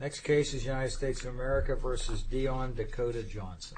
Next case is United States of America v. Dion Dakota Johnson.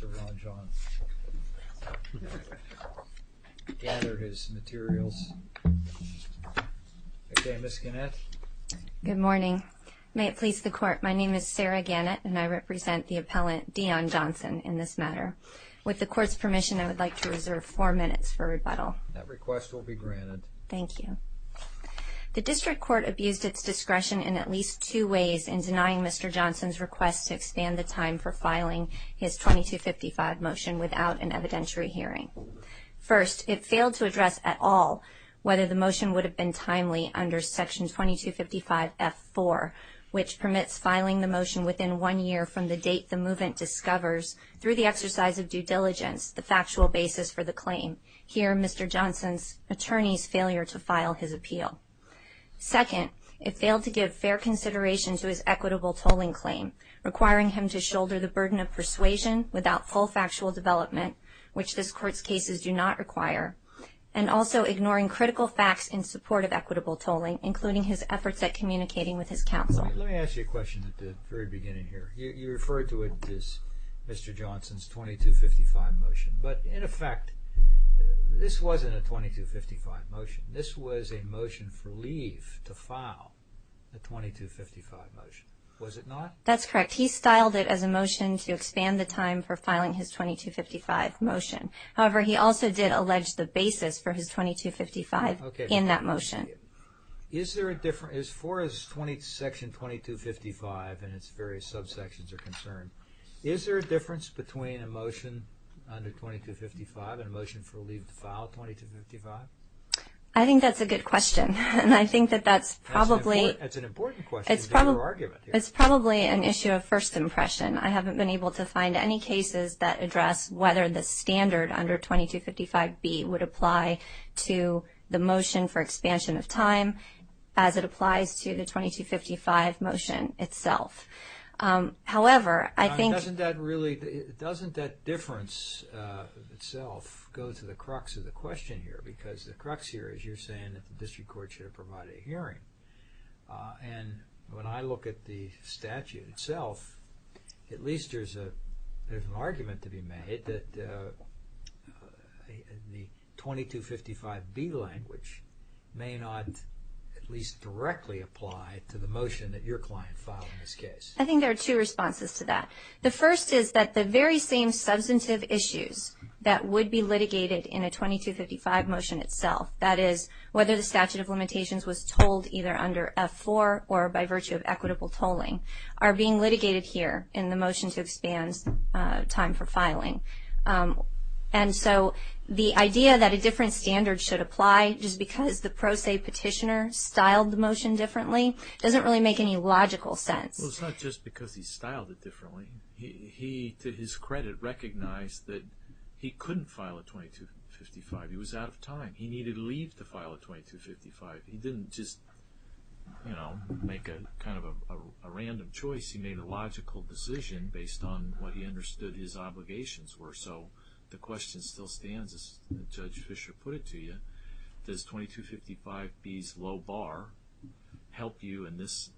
I would like to reserve four minutes for rebuttal. That request will be granted. Thank you. The district court abused its discretion in at least two ways in denying Mr. Johnson's request to expand the time for filing his 2255 motion without an evidentiary hearing. First, it failed to address at all whether the motion would have been timely under section 2255F4, which permits filing the motion within one year from the date the movement discovers, through the exercise of due diligence, the factual basis for the claim. Here, Mr. Johnson's attorney's failure to file his appeal. Second, it failed to give fair consideration to his equitable tolling claim, requiring him to shoulder the burden of persuasion without full factual development, which this court's cases do not require, and also ignoring critical facts in support of equitable tolling, including his efforts at communicating with his counsel. Let me ask you a question at the very beginning here. You referred to it as Mr. Johnson's 2255 motion, but in effect, this wasn't a 2255 motion. This was a motion for leave to file a 2255 motion, was it not? That's correct. He styled it as a motion to expand the time for filing his 2255 motion. However, he also did allege the basis for his 2255 in that motion. As far as Section 2255 and its various subsections are concerned, is there a difference between a motion under 2255 and a motion for leave to file 2255? I think that's a good question, and I think that that's probably an issue of first impression. I haven't been able to find any cases that address whether the standard under 2255B would apply to the motion for expansion of time as it applies to the 2255 motion itself. However, I think— Doesn't that really—doesn't that difference itself go to the crux of the question here? Because the crux here is you're saying that the district court should have provided a hearing. And when I look at the statute itself, at least there's an argument to be made that the 2255B language may not at least directly apply to the motion that your client filed in this case. I think there are two responses to that. The first is that the very same substantive issues that would be litigated in a 2255 motion itself, that is, whether the statute of limitations was told either under F-4 or by virtue of equitable tolling, are being litigated here in the motion to expand time for filing. And so the idea that a different standard should apply just because the pro se petitioner styled the motion differently doesn't really make any logical sense. Well, it's not just because he styled it differently. He, to his credit, recognized that he couldn't file a 2255. He was out of time. He needed leave to file a 2255. He didn't just, you know, make kind of a random choice. He made a logical decision based on what he understood his obligations were. So the question still stands, as Judge Fischer put it to you, does 2255B's low bar help you in this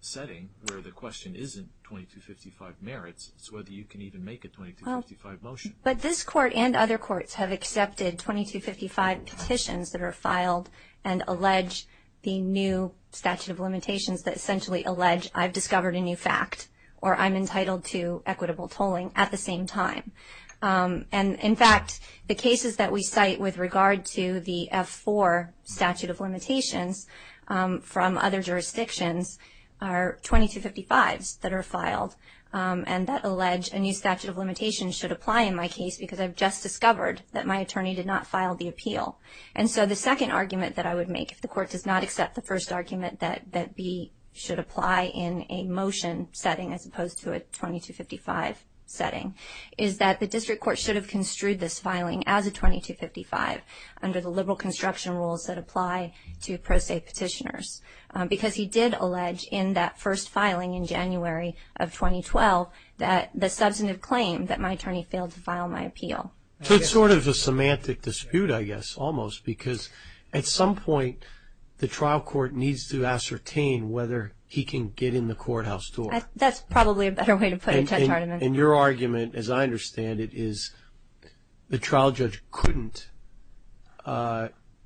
setting where the question isn't 2255 merits, it's whether you can even make a 2255 motion. But this court and other courts have accepted 2255 petitions that are filed and allege the new statute of limitations that essentially allege I've discovered a new fact or I'm entitled to equitable tolling at the same time. And, in fact, the cases that we cite with regard to the F-4 statute of limitations from other jurisdictions are 2255s that are filed and that allege a new statute of limitations should apply in my case because I've just discovered that my attorney did not file the appeal. And so the second argument that I would make, if the court does not accept the first argument that B should apply in a motion setting as opposed to a 2255 setting, is that the district court should have construed this filing as a 2255 under the liberal construction rules that apply to pro se petitioners. Because he did allege in that first filing in January of 2012 that the substantive claim that my attorney failed to file my appeal. So it's sort of a semantic dispute, I guess, almost, because at some point the trial court needs to ascertain whether he can get in the courthouse door. That's probably a better way to put it, Judge Hardiman. And your argument, as I understand it, is the trial judge couldn't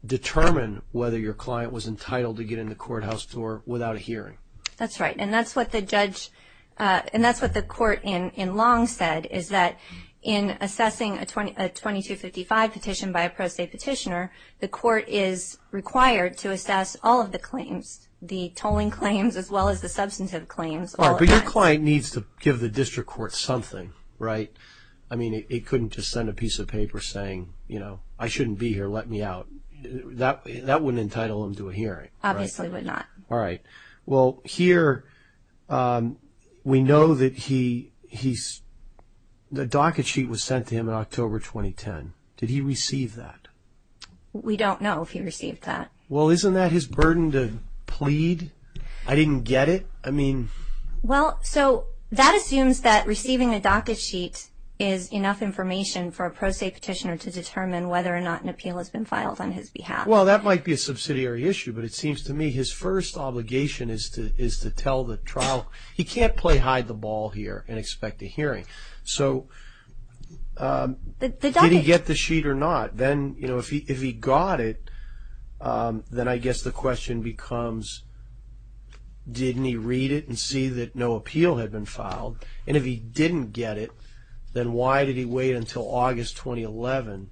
determine whether your client was entitled to get in the courthouse door without a hearing. That's right. And that's what the court in Long said, is that in assessing a 2255 petition by a pro se petitioner, the court is required to assess all of the claims, the tolling claims as well as the substantive claims. But your client needs to give the district court something, right? I mean, it couldn't just send a piece of paper saying, you know, I shouldn't be here, let me out. That wouldn't entitle him to a hearing. Obviously would not. All right. Well, here we know that the docket sheet was sent to him in October 2010. Did he receive that? We don't know if he received that. Well, isn't that his burden to plead? I didn't get it. I mean. Well, so that assumes that receiving a docket sheet is enough information for a pro se petitioner to determine whether or not an appeal has been filed on his behalf. Well, that might be a subsidiary issue, but it seems to me his first obligation is to tell the trial. He can't play hide the ball here and expect a hearing. So did he get the sheet or not? Then, you know, if he got it, then I guess the question becomes, didn't he read it and see that no appeal had been filed? And if he didn't get it, then why did he wait until August 2011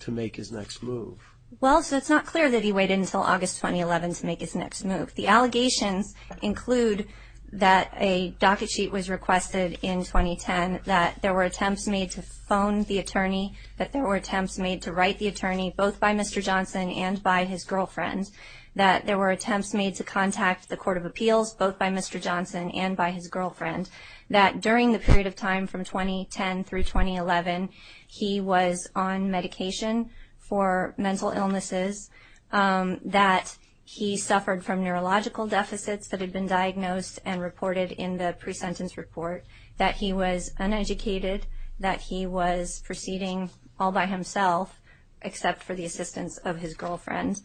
to make his next move? Well, so it's not clear that he waited until August 2011 to make his next move. The allegations include that a docket sheet was requested in 2010, that there were attempts made to phone the attorney, that there were attempts made to write the attorney, both by Mr. Johnson and by his girlfriend, that there were attempts made to contact the Court of Appeals, both by Mr. Johnson and by his girlfriend, that during the period of time from 2010 through 2011, he was on medication for mental illnesses, that he suffered from neurological deficits that had been diagnosed and reported in the pre-sentence report, that he was uneducated, that he was proceeding all by himself except for the assistance of his girlfriend.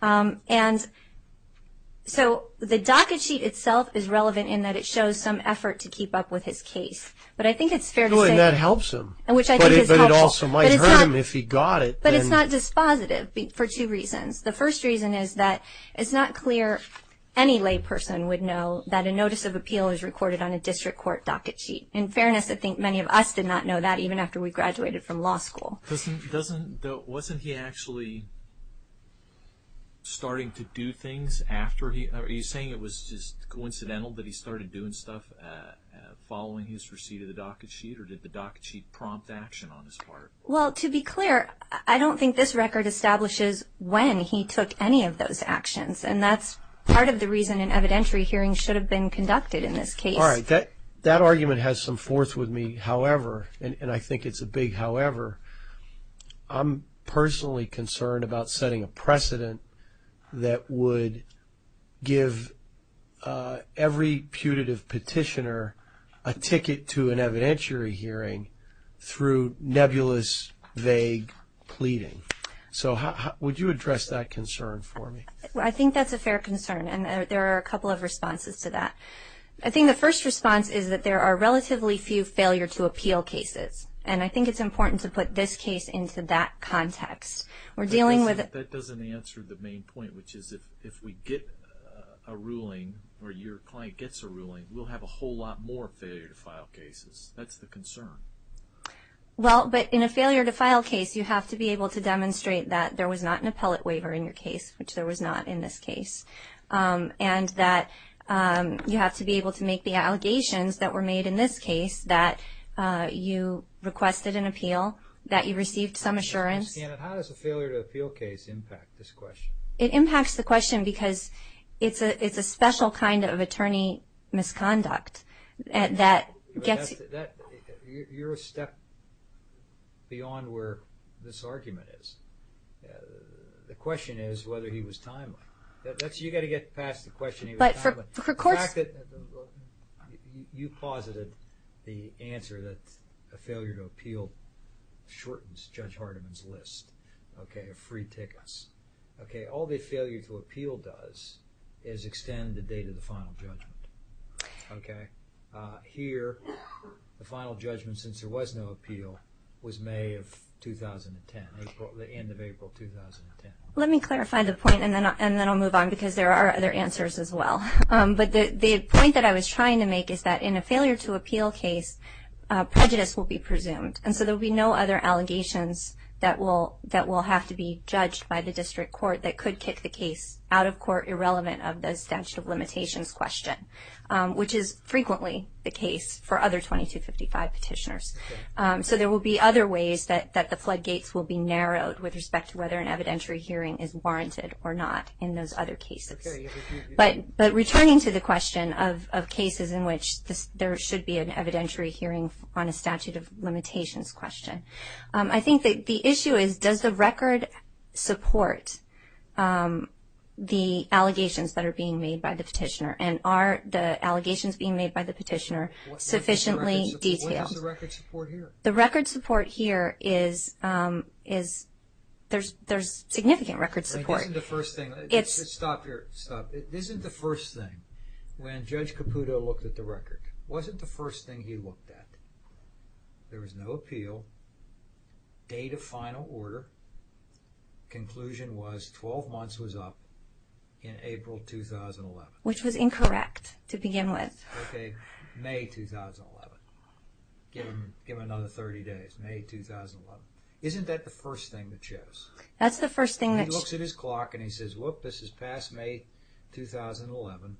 And so the docket sheet itself is relevant in that it shows some effort to keep up with his case. But I think it's fair to say... And that helps him. Which I think is helpful. But it also might hurt him if he got it. But it's not dispositive for two reasons. The first reason is that it's not clear any lay person would know that a notice of appeal is recorded on a district court docket sheet. In fairness, I think many of us did not know that even after we graduated from law school. Wasn't he actually starting to do things after he... Are you saying it was just coincidental that he started doing stuff following his receipt of the docket sheet? Or did the docket sheet prompt action on his part? Well, to be clear, I don't think this record establishes when he took any of those actions. And that's part of the reason an evidentiary hearing should have been conducted in this case. All right. That argument has some force with me. However, and I think it's a big however, I'm personally concerned about setting a precedent that would give every putative petitioner a ticket to an evidentiary hearing through nebulous, vague pleading. So would you address that concern for me? I think that's a fair concern. And there are a couple of responses to that. I think the first response is that there are relatively few failure to appeal cases. And I think it's important to put this case into that context. That doesn't answer the main point, which is if we get a ruling or your client gets a ruling, we'll have a whole lot more failure to file cases. That's the concern. Well, but in a failure to file case, you have to be able to demonstrate that there was not an appellate waiver in your case, which there was not in this case. And that you have to be able to make the allegations that were made in this case, that you requested an appeal, that you received some assurance. And how does a failure to appeal case impact this question? It impacts the question because it's a special kind of attorney misconduct that gets you. You're a step beyond where this argument is. The question is whether he was timely. You've got to get past the question of whether he was timely. The fact that you posited the answer that a failure to appeal shortens Judge Hardiman's list of free tickets. All a failure to appeal does is extend the date of the final judgment. Here, the final judgment, since there was no appeal, was May of 2010, the end of April 2010. Let me clarify the point and then I'll move on because there are other answers as well. But the point that I was trying to make is that in a failure to appeal case, prejudice will be presumed. And so there will be no other allegations that will have to be judged by the district court that could kick the case out of court irrelevant of the statute of limitations question, which is frequently the case for other 2255 petitioners. So there will be other ways that the floodgates will be narrowed with respect to whether an evidentiary hearing is warranted or not in those other cases. But returning to the question of cases in which there should be an evidentiary hearing on a statute of limitations question, I think that the issue is, does the record support the allegations that are being made by the petitioner? And are the allegations being made by the petitioner sufficiently detailed? What is the record support here? The record support here is there's significant record support. This isn't the first thing. Stop here. Stop. This isn't the first thing. When Judge Caputo looked at the record, wasn't the first thing he looked at? There was no appeal, date of final order, conclusion was 12 months was up in April 2011. Which was incorrect to begin with. Okay. May 2011. Give him another 30 days. May 2011. Isn't that the first thing that shows? That's the first thing that shows. He looks at his clock and he says, whoop, this is past May 2011.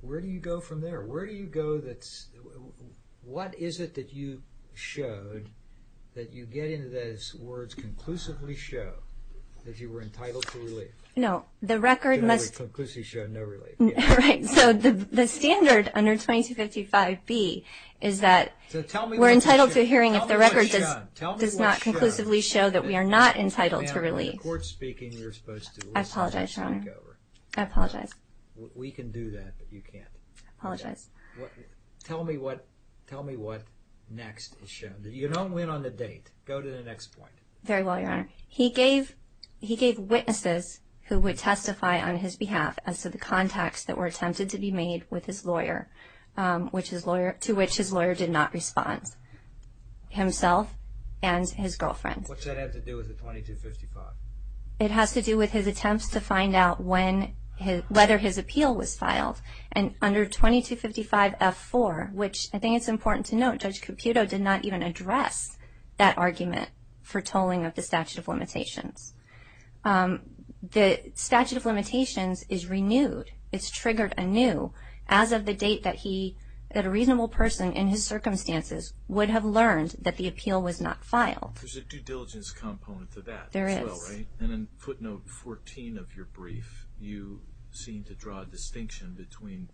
Where do you go from there? Where do you go that's – what is it that you showed that you get into those words conclusively show that you were entitled to relief? No. The record must – Conclusively show no relief. Right. So the standard under 2255B is that we're entitled to a hearing if the record does not conclusively show that we are not entitled to relief. I apologize, Your Honor. I apologize. We can do that, but you can't. I apologize. Tell me what next is shown. Go to the next point. Very well, Your Honor. He gave witnesses who would testify on his behalf as to the contacts that were attempted to be made with his lawyer, to which his lawyer did not respond, himself and his girlfriend. What's that have to do with the 2255? It has to do with his attempts to find out whether his appeal was filed. And under 2255F4, which I think it's important to note, Judge Caputo did not even address that argument for tolling of the statute of limitations. The statute of limitations is renewed. It's triggered anew as of the date that he – that a reasonable person in his circumstances would have learned that the appeal was not filed. There's a due diligence component to that as well, right? There is. And in footnote 14 of your brief, you seem to draw a distinction between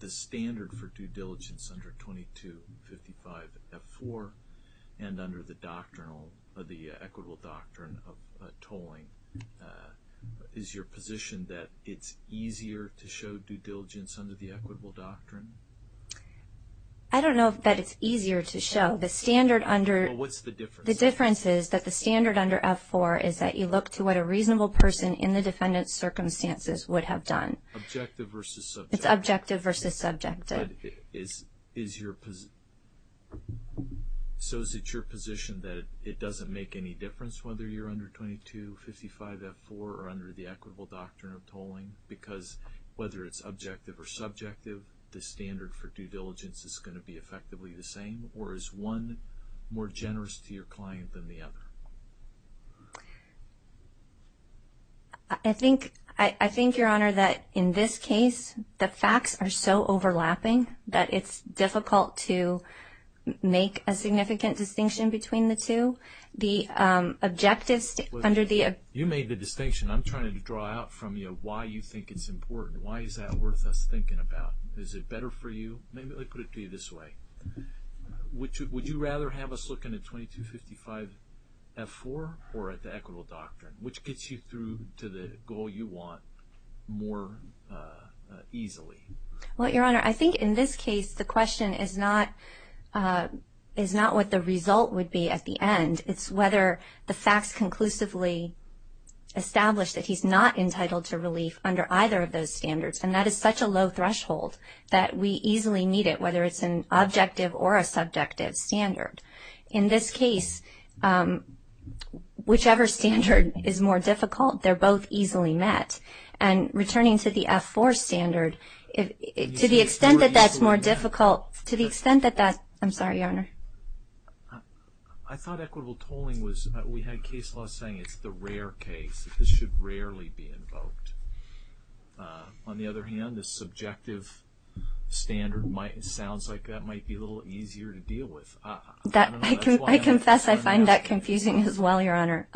the standard for due diligence under 2255F4 and under the doctrinal – the equitable doctrine of tolling. Is your position that it's easier to show due diligence under the equitable doctrine? I don't know that it's easier to show. The standard under – Well, what's the difference? The difference is that the standard under F4 is that you look to what a reasonable person in the defendant's circumstances would have done. Objective versus subjective. It's objective versus subjective. But is your – so is it your position that it doesn't make any difference whether you're under 2255F4 or under the equitable doctrine of tolling because whether it's objective or subjective, the standard for due diligence is going to be effectively the same, or is one more generous to your client than the other? I think, Your Honor, that in this case the facts are so overlapping that it's difficult to make a significant distinction between the two. The objectives under the – You made the distinction. I'm trying to draw out from you why you think it's important. Why is that worth us thinking about? Is it better for you? Maybe I'll put it to you this way. Would you rather have us looking at 2255F4 or at the equitable doctrine, which gets you through to the goal you want more easily? Well, Your Honor, I think in this case the question is not what the result would be at the end. It's whether the facts conclusively establish that he's not entitled to relief under either of those standards, and that is such a low threshold that we easily meet it, whether it's an objective or a subjective standard. In this case, whichever standard is more difficult, they're both easily met. And returning to the F4 standard, to the extent that that's more difficult, to the extent that that's – I'm sorry, Your Honor. I thought equitable tolling was – we had case law saying it's the rare case. This should rarely be invoked. On the other hand, the subjective standard sounds like that might be a little easier to deal with. I don't know. I confess I find that confusing as well, Your Honor.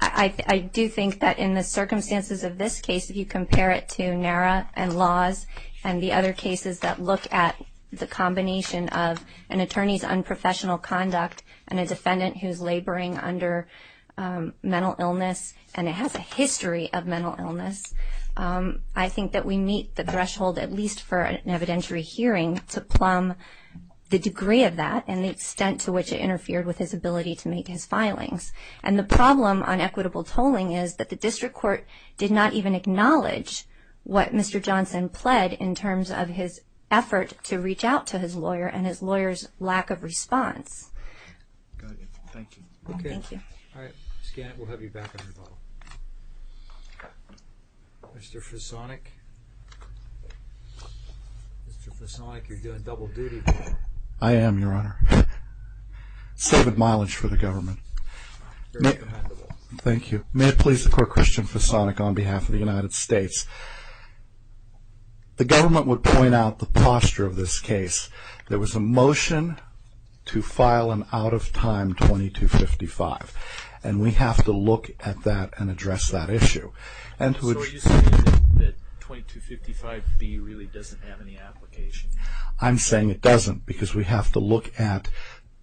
I do think that in the circumstances of this case, if you compare it to NARA and laws and the other cases that look at the combination of an attorney's unprofessional conduct and a defendant who's laboring under mental illness and has a history of mental illness, I think that we meet the threshold, at least for an evidentiary hearing, to plumb the degree of that and the extent to which it interfered with his ability to make his filings. And the problem on equitable tolling is that the district court did not even acknowledge what Mr. Johnson pled in terms of his effort to reach out to his lawyer and his lawyer's lack of response. Got it. Thank you. Thank you. Okay. All right. Scan it. We'll have you back on rebuttal. Mr. Fisonic? Mr. Fisonic, you're doing double duty. I am, Your Honor. Saved mileage for the government. Very commendable. Thank you. May it please the Court, Christian Fisonic, on behalf of the United States. The government would point out the posture of this case. There was a motion to file an out-of-time 2255, and we have to look at that and address that issue. So are you saying that 2255B really doesn't have any application? I'm saying it doesn't because we have to look at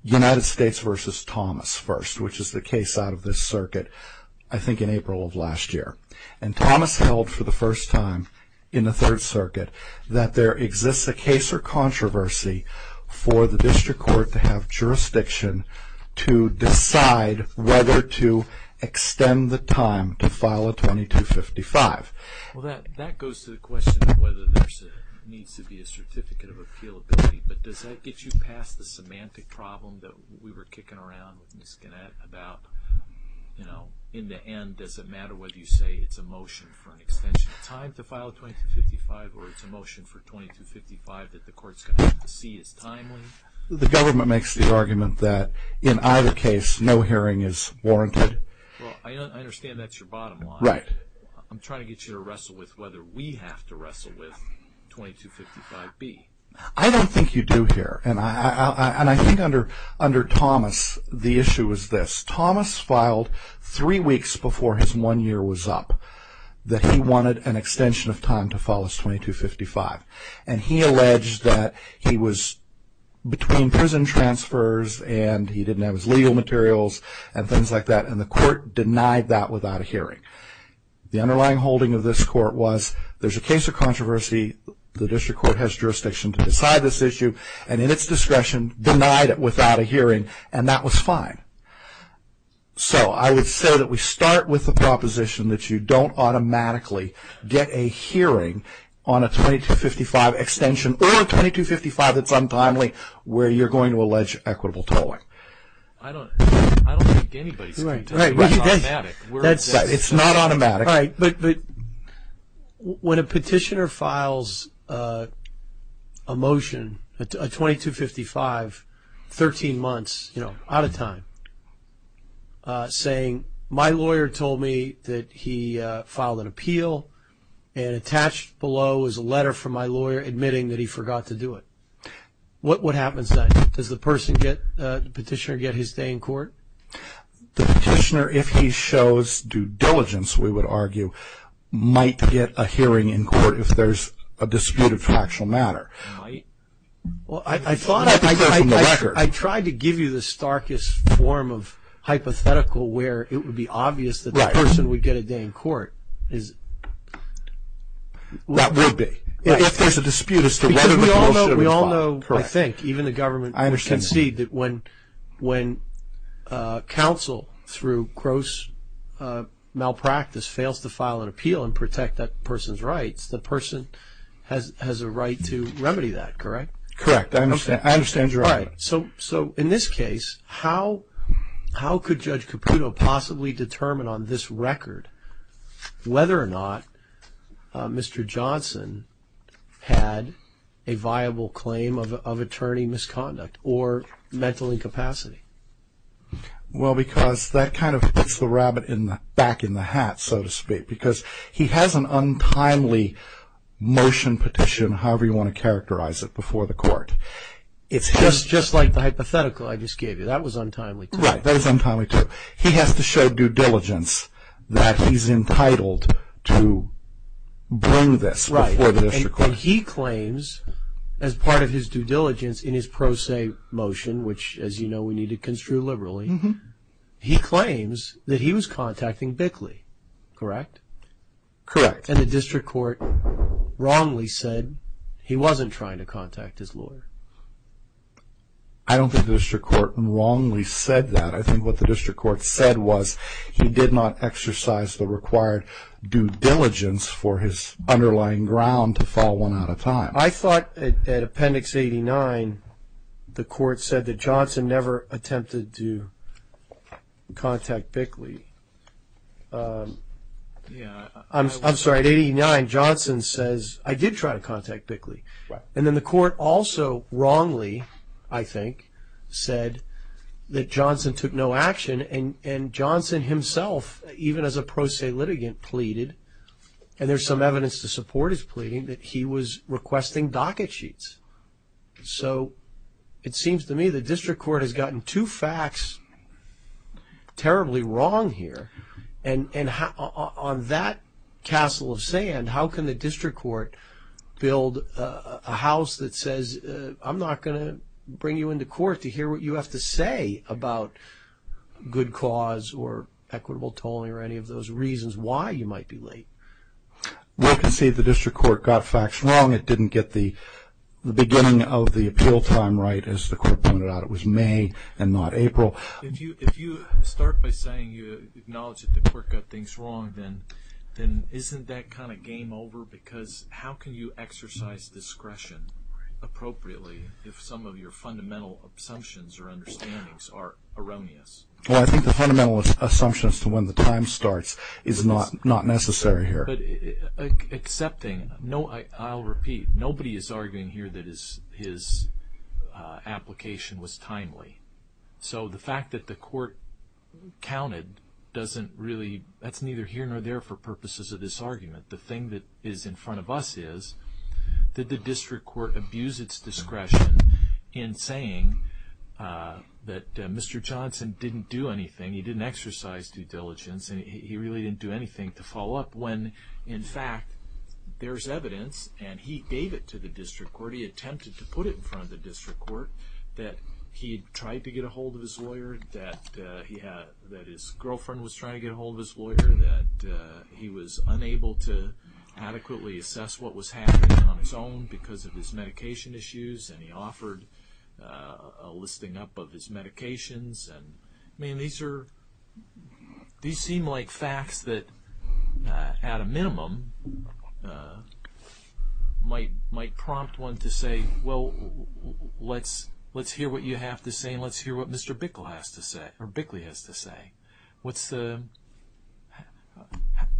United States v. Thomas first, which is the case out of this circuit I think in April of last year. And Thomas held for the first time in the Third Circuit that there exists a case or controversy for the district court to have jurisdiction to decide whether to extend the time to file a 2255. Well, that goes to the question of whether there needs to be a certificate of appealability, but does that get you past the semantic problem that we were kicking around with Ms. Gannett about in the end, does it matter whether you say it's a motion for an extension of time to file a 2255 or it's a motion for 2255 that the court's going to have to see as timely? The government makes the argument that in either case, no hearing is warranted. Well, I understand that's your bottom line. Right. I'm trying to get you to wrestle with whether we have to wrestle with 2255B. I don't think you do here. And I think under Thomas, the issue was this. Thomas filed three weeks before his one year was up that he wanted an extension of time to file his 2255. And he alleged that he was between prison transfers and he didn't have his legal materials and things like that, and the court denied that without a hearing. The underlying holding of this court was there's a case of controversy, the district court has jurisdiction to decide this issue, and in its discretion denied it without a hearing, and that was fine. So I would say that we start with the proposition that you don't automatically get a hearing on a 2255 extension or a 2255 that's untimely where you're going to allege equitable tolling. I don't think anybody's going to. Right. It's not automatic. Right. But when a petitioner files a motion, a 2255, 13 months, you know, out of time, saying my lawyer told me that he filed an appeal and attached below is a letter from my lawyer admitting that he forgot to do it, what happens then? Does the person get, the petitioner get his day in court? The petitioner, if he shows due diligence, we would argue, might get a hearing in court if there's a dispute of factual matter. Might? I thought I tried to give you the starkest form of hypothetical where it would be obvious that the person would get a day in court. That would be. If there's a dispute as to whether the motion was filed. So I think even the government can see that when counsel, through gross malpractice, fails to file an appeal and protect that person's rights, the person has a right to remedy that, correct? Correct. I understand your argument. So in this case, how could Judge Caputo possibly determine on this record whether or not Mr. Johnson had a viable claim of attorney misconduct or mental incapacity? Well, because that kind of puts the rabbit back in the hat, so to speak, because he has an untimely motion petition, however you want to characterize it, before the court. Just like the hypothetical I just gave you. That was untimely too. Right. That was untimely too. So he has to show due diligence that he's entitled to bring this before the district court. Right. And he claims, as part of his due diligence in his pro se motion, which, as you know, we need to construe liberally, he claims that he was contacting Bickley, correct? Correct. And the district court wrongly said he wasn't trying to contact his lawyer. I don't think the district court wrongly said that. I think what the district court said was he did not exercise the required due diligence for his underlying ground to fall one at a time. I thought at Appendix 89 the court said that Johnson never attempted to contact Bickley. I'm sorry, at 89 Johnson says, I did try to contact Bickley. Right. And then the court also wrongly, I think, said that Johnson took no action. And Johnson himself, even as a pro se litigant, pleaded, and there's some evidence to support his pleading, that he was requesting docket sheets. So it seems to me the district court has gotten two facts terribly wrong here. And on that castle of sand, how can the district court build a house that says, I'm not going to bring you into court to hear what you have to say about good cause or equitable tolling or any of those reasons why you might be late? Well, you can see the district court got facts wrong. It didn't get the beginning of the appeal time right, as the court pointed out. It was May and not April. If you start by saying you acknowledge that the court got things wrong, then isn't that kind of game over? Because how can you exercise discretion appropriately if some of your fundamental assumptions or understandings are erroneous? Well, I think the fundamental assumption as to when the time starts is not necessary here. But accepting, I'll repeat, nobody is arguing here that his application was timely. So the fact that the court counted doesn't really, that's neither here nor there for purposes of this argument. The thing that is in front of us is, did the district court abuse its discretion in saying that Mr. Johnson didn't do anything, he didn't exercise due diligence, he really didn't do anything to follow up when, in fact, there's evidence and he gave it to the district court, he attempted to put it in front of the district court, that he tried to get a hold of his lawyer, that his girlfriend was trying to get a hold of his lawyer, that he was unable to adequately assess what was happening on his own because of his medication issues and he offered a listing up of his medications. I mean, these seem like facts that, at a minimum, might prompt one to say, well, let's hear what you have to say and let's hear what Mr. Bickley has to say.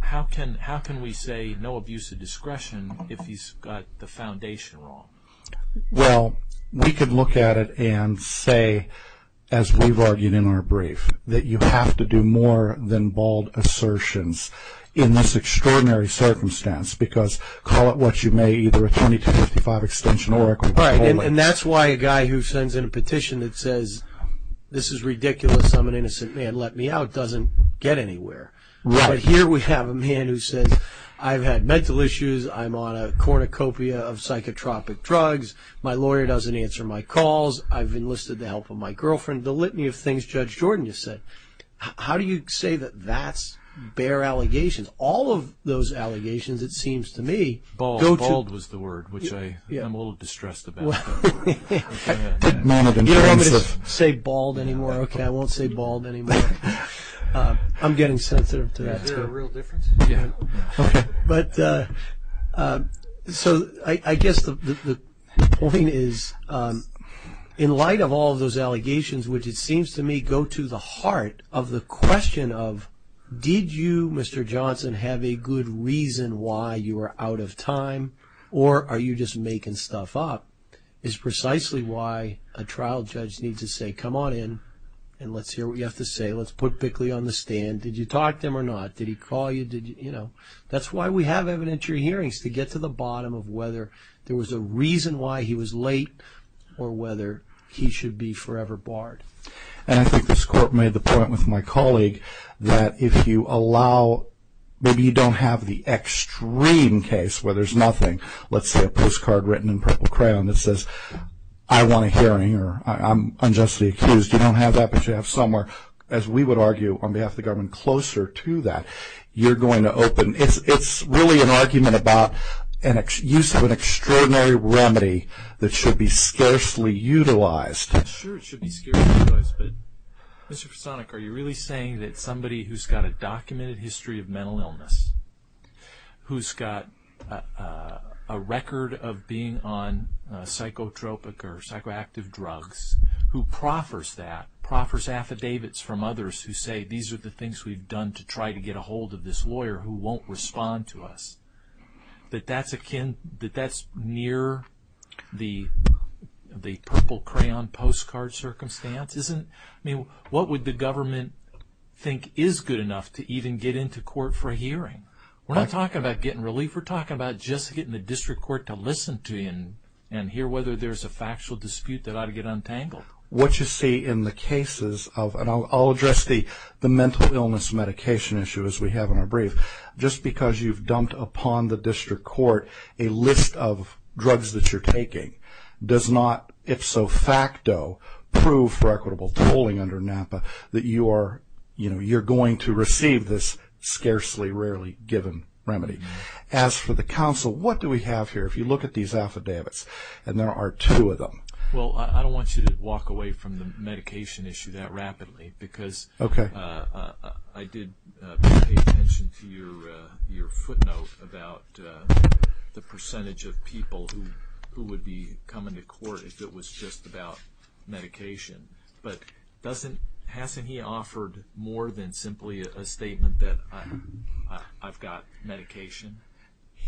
How can we say no abuse of discretion if he's got the foundation wrong? Well, we could look at it and say, as we've argued in our brief, that you have to do more than bald assertions in this extraordinary circumstance because, call it what you may, either a 2255 extension or a compulsory. Right, and that's why a guy who sends in a petition that says, this is ridiculous, I'm an innocent man, let me out, doesn't get anywhere. Right. But here we have a man who says, I've had mental issues, I'm on a cornucopia of psychotropic drugs, my lawyer doesn't answer my calls, I've enlisted the help of my girlfriend. The litany of things Judge Jordan just said. How do you say that that's bare allegations? All of those allegations, it seems to me, go to... Bald, bald was the word, which I'm a little distressed about. Did none of them say bald anymore? Okay, I won't say bald anymore. I'm getting sensitive to that. Is there a real difference? Yeah. Okay, so I guess the point is, in light of all of those allegations, which it seems to me go to the heart of the question of, did you, Mr. Johnson, have a good reason why you were out of time, or are you just making stuff up, is precisely why a trial judge needs to say, come on in, and let's hear what you have to say, let's put Bickley on the stand. Did you talk to him or not? Did he call you? That's why we have evidentiary hearings, to get to the bottom of whether there was a reason why he was late or whether he should be forever barred. And I think this court made the point with my colleague that if you allow, maybe you don't have the extreme case where there's nothing, let's say a postcard written in purple crayon that says, I want a hearing here. I'm unjustly accused. You don't have that, but you have somewhere, as we would argue, on behalf of the government, closer to that. You're going to open. It's really an argument about use of an extraordinary remedy that should be scarcely utilized. Sure, it should be scarcely utilized. But, Mr. Personik, are you really saying that somebody who's got a documented history of mental psychotropic or psychoactive drugs, who proffers that, proffers affidavits from others who say, these are the things we've done to try to get a hold of this lawyer who won't respond to us, that that's near the purple crayon postcard circumstance? What would the government think is good enough to even get into court for a hearing? We're not talking about getting relief. We're talking about just getting the district court to listen to you and hear whether there's a factual dispute that ought to get untangled. What you see in the cases of, and I'll address the mental illness medication issue, as we have in our brief, just because you've dumped upon the district court a list of drugs that you're taking does not, if so facto, prove for equitable tolling under NAPA that you're going to receive this scarcely, rarely given remedy. As for the counsel, what do we have here? If you look at these affidavits, and there are two of them. Well, I don't want you to walk away from the medication issue that rapidly because I did pay attention to your footnote about the percentage of people who would be coming to court if it was just about medication. But hasn't he offered more than simply a statement that I've got medication?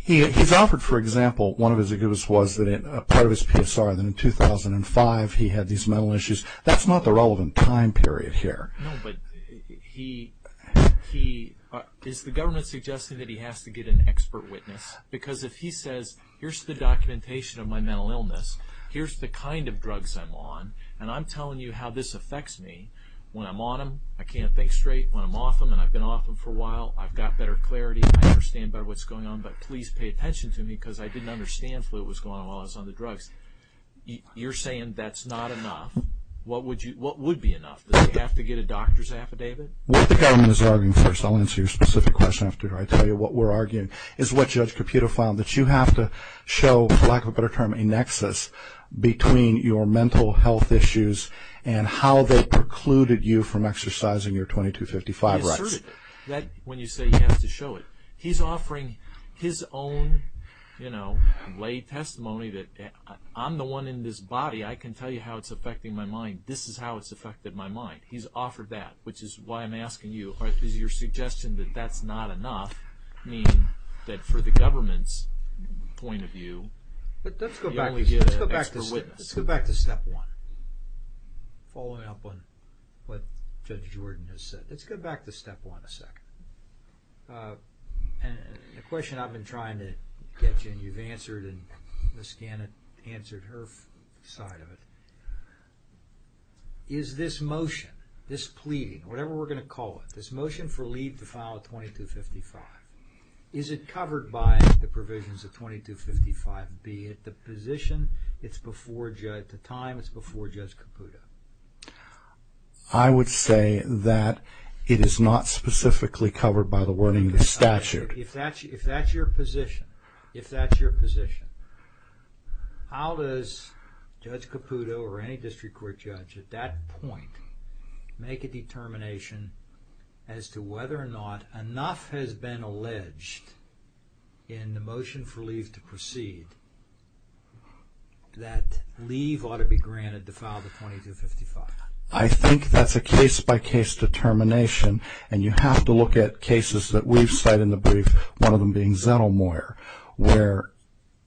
He's offered, for example, one of his affidavits was that part of his PSR that in 2005 he had these mental issues. That's not the relevant time period here. No, but is the government suggesting that he has to get an expert witness? Because if he says, here's the documentation of my mental illness, here's the kind of drugs I'm on, and I'm telling you how this affects me, when I'm on them, I can't think straight. When I'm off them, and I've been off them for a while, I've got better clarity. I understand better what's going on, but please pay attention to me because I didn't understand what was going on while I was on the drugs. You're saying that's not enough. What would be enough? Does he have to get a doctor's affidavit? What the government is arguing, first I'll answer your specific question after I tell you what we're arguing, is what Judge Caputo found, that you have to show, for lack of a better term, a nexus between your mental health issues and how they precluded you from exercising your 2255 rights. When you say you have to show it, he's offering his own, you know, lay testimony that I'm the one in this body, I can tell you how it's affecting my mind. This is how it's affected my mind. He's offered that, which is why I'm asking you, does your suggestion that that's not enough mean that for the government's point of view, you only get an expert witness? Let's go back to step one, following up on what Judge Jordan has said. Let's go back to step one a second. The question I've been trying to get you, and you've answered, and Ms. Gannon answered her side of it, is this motion, this pleading, whatever we're going to call it, this motion for leave to file 2255, is it covered by the provisions of 2255B? At the position, it's before Judge, at the time, it's before Judge Caputo. I would say that it is not specifically covered by the wording of the statute. If that's your position, if that's your position, how does Judge Caputo or any district court judge at that point make a determination as to whether or not enough has been alleged in the motion for leave to proceed that leave ought to be granted to file the 2255? I think that's a case-by-case determination, and you have to look at cases that we've cited in the brief, one of them being Zettelmaier, where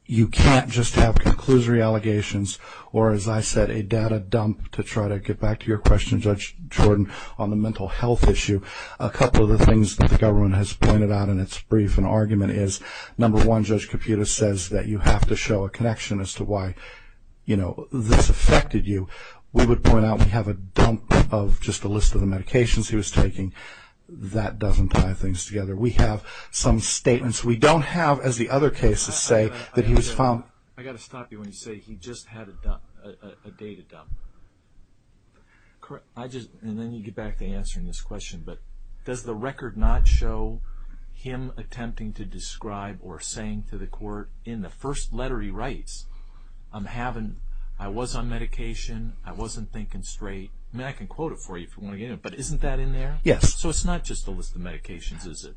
you can't just have conclusory allegations or, as I said, a data dump to try to get back to your question, Judge Jordan, on the mental health issue. A couple of the things that the government has pointed out in its brief and argument is, number one, Judge Caputo says that you have to show a connection as to why this affected you. We would point out we have a dump of just a list of the medications he was taking. That doesn't tie things together. We have some statements we don't have, as the other cases say, that he was found. I've got to stop you when you say he just had a data dump. And then you get back to answering this question, but does the record not show him attempting to describe or saying to the court in the first letter he writes, I was on medication, I wasn't thinking straight. I mean, I can quote it for you if you want to get into it, but isn't that in there? Yes. So it's not just a list of medications, is it?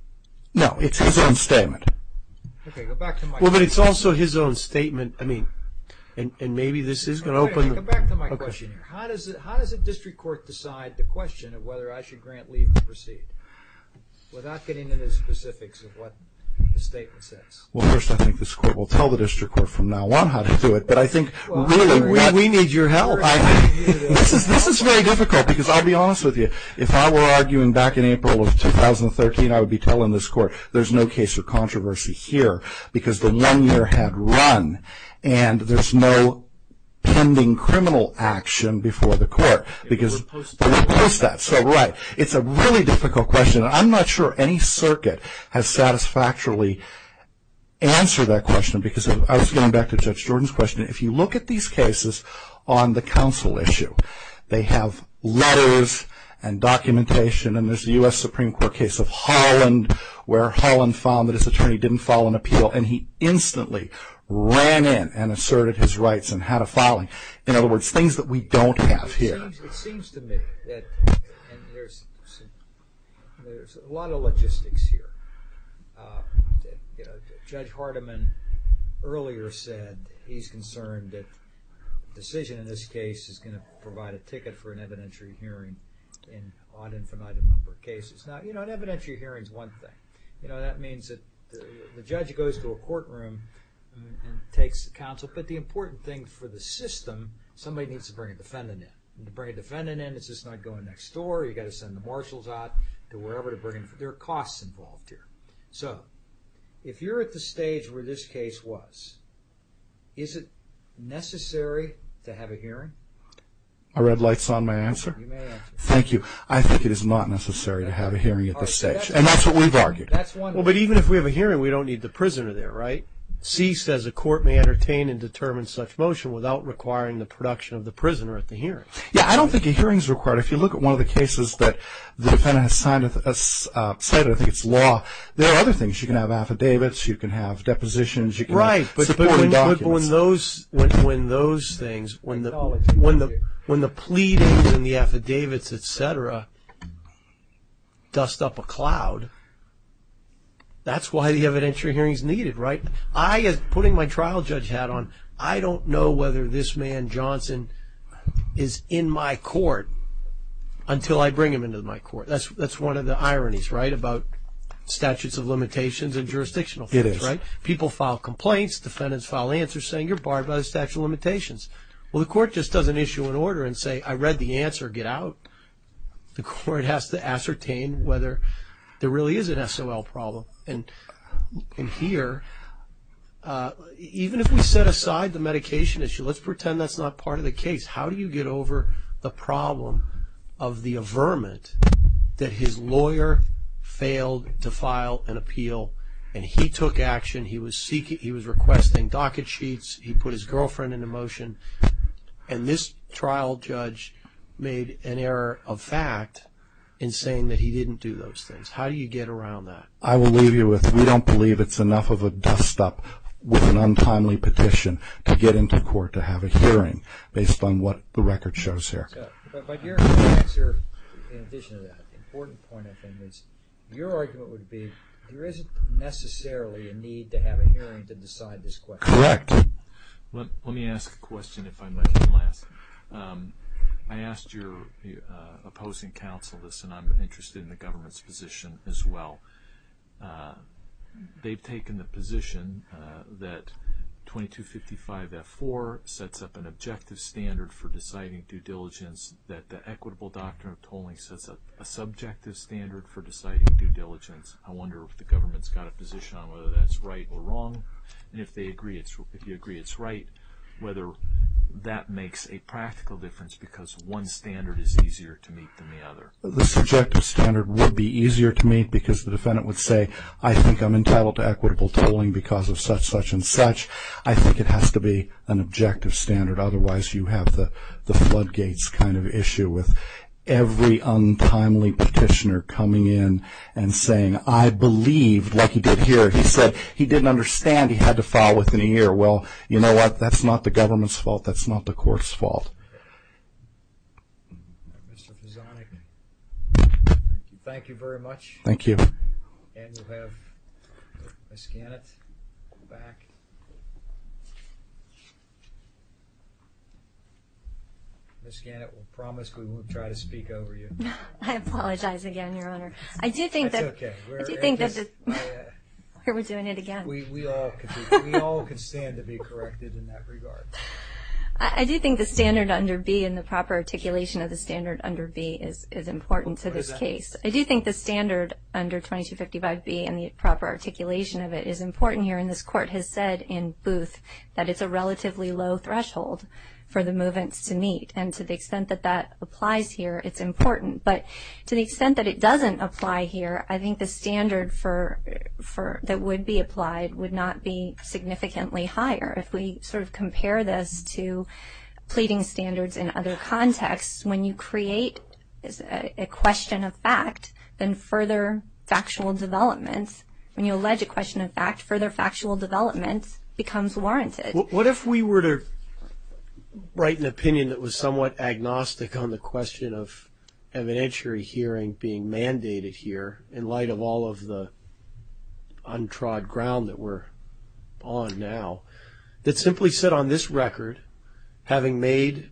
No, it's his own statement. Okay, go back to my question. Well, but it's also his own statement, I mean, and maybe this is going to open the… Okay, go back to my question here. How does a district court decide the question of whether I should grant leave to proceed without getting into the specifics of what the statement says? Well, first I think this court will tell the district court from now on how to do it, but I think really we need your help. This is very difficult because I'll be honest with you, if I were arguing back in April of 2013, I would be telling this court, there's no case of controversy here because the one year had run and there's no pending criminal action before the court. It was posted. It was posted, so right. It's a really difficult question. I'm not sure any circuit has satisfactorily answered that question because I was going back to Judge Jordan's question. If you look at these cases on the counsel issue, they have letters and documentation, and there's the U.S. Supreme Court case of Holland where Holland found that his attorney didn't file an appeal and he instantly ran in and asserted his rights and had a filing. In other words, things that we don't have here. It seems to me that there's a lot of logistics here. Judge Hardiman earlier said he's concerned that a decision in this case is going to provide a ticket for an evidentiary hearing in an infinite number of cases. An evidentiary hearing is one thing. That means that the judge goes to a courtroom and takes counsel, but the important thing for the system, somebody needs to bring a defendant in. To bring a defendant in, it's just not going next door. You've got to send the marshals out to wherever to bring them. There are costs involved here. So if you're at the stage where this case was, is it necessary to have a hearing? Are red lights on my answer? You may answer. Thank you. I think it is not necessary to have a hearing at this stage, and that's what we've argued. Well, but even if we have a hearing, we don't need the prisoner there, right? C says a court may entertain and determine such motion without requiring the production of the prisoner at the hearing. Yeah, I don't think a hearing is required. If you look at one of the cases that the defendant has cited, I think it's law, there are other things. You can have affidavits. You can have depositions. You can have supporting documents. When the pleadings and the affidavits, et cetera, dust up a cloud, that's why the evidentiary hearing is needed, right? Putting my trial judge hat on, I don't know whether this man, Johnson, is in my court until I bring him into my court. That's one of the ironies, right, It is. People file complaints. Defendants file answers saying you're barred by the statute of limitations. Well, the court just doesn't issue an order and say, I read the answer, get out. The court has to ascertain whether there really is an SOL problem. And here, even if we set aside the medication issue, let's pretend that's not part of the case, how do you get over the problem of the averment that his lawyer failed to file an appeal, and he took action, he was requesting docket sheets, he put his girlfriend into motion, and this trial judge made an error of fact in saying that he didn't do those things. How do you get around that? I will leave you with, we don't believe it's enough of a dust-up with an untimely petition to get into court to have a hearing based on what the record shows here. But your answer, in addition to that, the important point, I think, is your argument would be there isn't necessarily a need to have a hearing to decide this question. Correct. Let me ask a question if I might at last. I asked your opposing counsel this, and I'm interested in the government's position as well. They've taken the position that 2255F4 sets up an objective standard for deciding due diligence, that the equitable doctrine of tolling sets up a subjective standard for deciding due diligence. I wonder if the government's got a position on whether that's right or wrong, and if you agree it's right, whether that makes a practical difference because one standard is easier to meet than the other. The subjective standard would be easier to meet because the defendant would say, I think I'm entitled to equitable tolling because of such, such, and such. I think it has to be an objective standard, otherwise you have the floodgates kind of issue with every untimely petitioner coming in and saying, I believed like he did here. He said he didn't understand. He had to file within a year. Well, you know what? That's not the government's fault. That's not the court's fault. Mr. Fisonic, thank you very much. Thank you. And we'll have Ms. Gannett back. Ms. Gannett, we promised we wouldn't try to speak over you. I apologize again, Your Honor. That's okay. I do think that we're doing it again. We all can stand to be corrected in that regard. I do think the standard under B and the proper articulation of the standard under B is important to this case. I do think the standard under 2255B and the proper articulation of it is important here. And this Court has said in Booth that it's a relatively low threshold for the movants to meet. And to the extent that that applies here, it's important. But to the extent that it doesn't apply here, I think the standard that would be applied would not be significantly higher. If we sort of compare this to pleading standards in other contexts, when you create a question of fact, then further factual developments, when you allege a question of fact, further factual developments becomes warranted. What if we were to write an opinion that was somewhat agnostic on the question of evidentiary hearing being mandated here in light of all of the untrod ground that we're on now, that simply said on this record, having made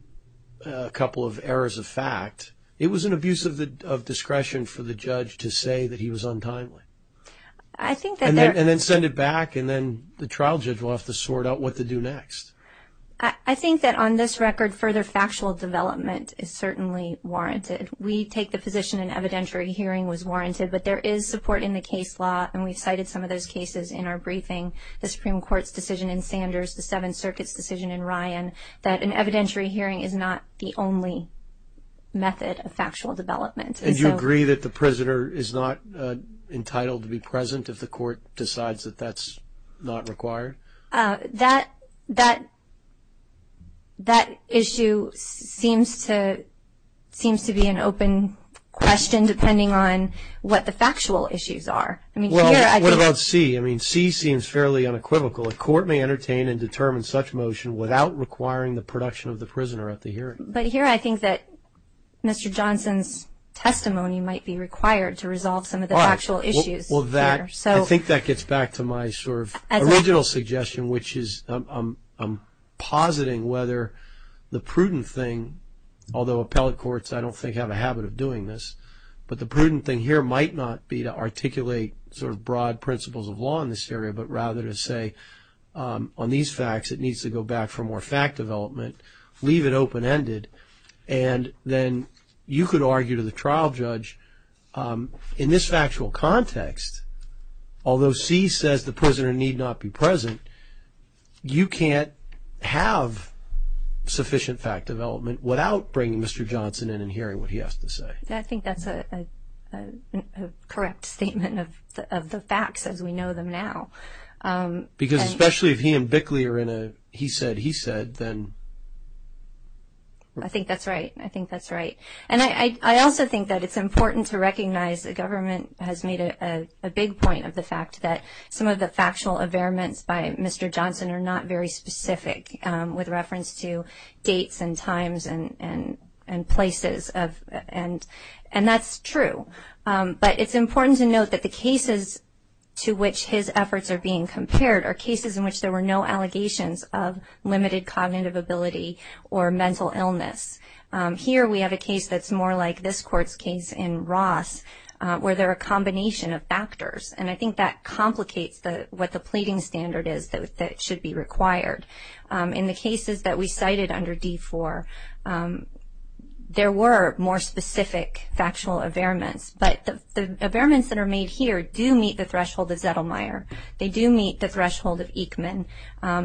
a couple of errors of fact, it was an abuse of discretion for the judge to say that he was untimely. And then send it back, and then the trial judge will have to sort out what to do next. I think that on this record, further factual development is certainly warranted. We take the position an evidentiary hearing was warranted, but there is support in the case law, and we've cited some of those cases in our briefing. The Supreme Court's decision in Sanders, the Seventh Circuit's decision in Ryan, that an evidentiary hearing is not the only method of factual development. And you agree that the prisoner is not entitled to be present if the court decides that that's not required? That issue seems to be an open question, depending on what the factual issues are. Well, what about C? I mean, C seems fairly unequivocal. A court may entertain and determine such motion without requiring the production of the prisoner at the hearing. But here I think that Mr. Johnson's testimony might be required to resolve some of the factual issues. I think that gets back to my sort of original suggestion, which is I'm positing whether the prudent thing, although appellate courts I don't think have a habit of doing this, but the prudent thing here might not be to articulate sort of broad principles of law in this area, but rather to say on these facts it needs to go back for more fact development, leave it open-ended, and then you could argue to the trial judge, in this factual context, although C says the prisoner need not be present, you can't have sufficient fact development without bringing Mr. Johnson in and hearing what he has to say. I think that's a correct statement of the facts as we know them now. Because especially if he and Bickley are in a he said, he said, then. I think that's right. I think that's right. And I also think that it's important to recognize the government has made a big point of the fact that some of the factual averments by Mr. Johnson are not very specific with reference to dates and times and places, and that's true. But it's important to note that the cases to which his efforts are being compared are cases in which there were no allegations of limited cognitive ability or mental illness. Here we have a case that's more like this court's case in Ross where there are a combination of factors, and I think that complicates what the pleading standard is that should be required. In the cases that we cited under D4, there were more specific factual averments, but the averments that are made here do meet the threshold of Zettelmeyer. They do meet the threshold of Eichmann.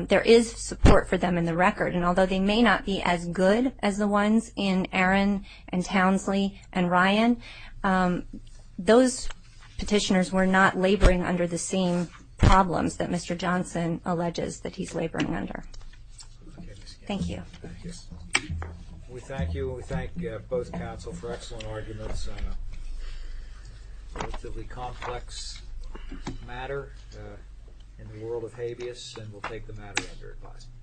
There is support for them in the record, and although they may not be as good as the ones in Aaron and Townsley and Ryan, those petitioners were not laboring under the same problems that Mr. Johnson alleges that he's laboring under. Thank you. We thank you and we thank both counsel for excellent arguments on a relatively complex matter in the world of habeas, and we'll take the matter under advisement.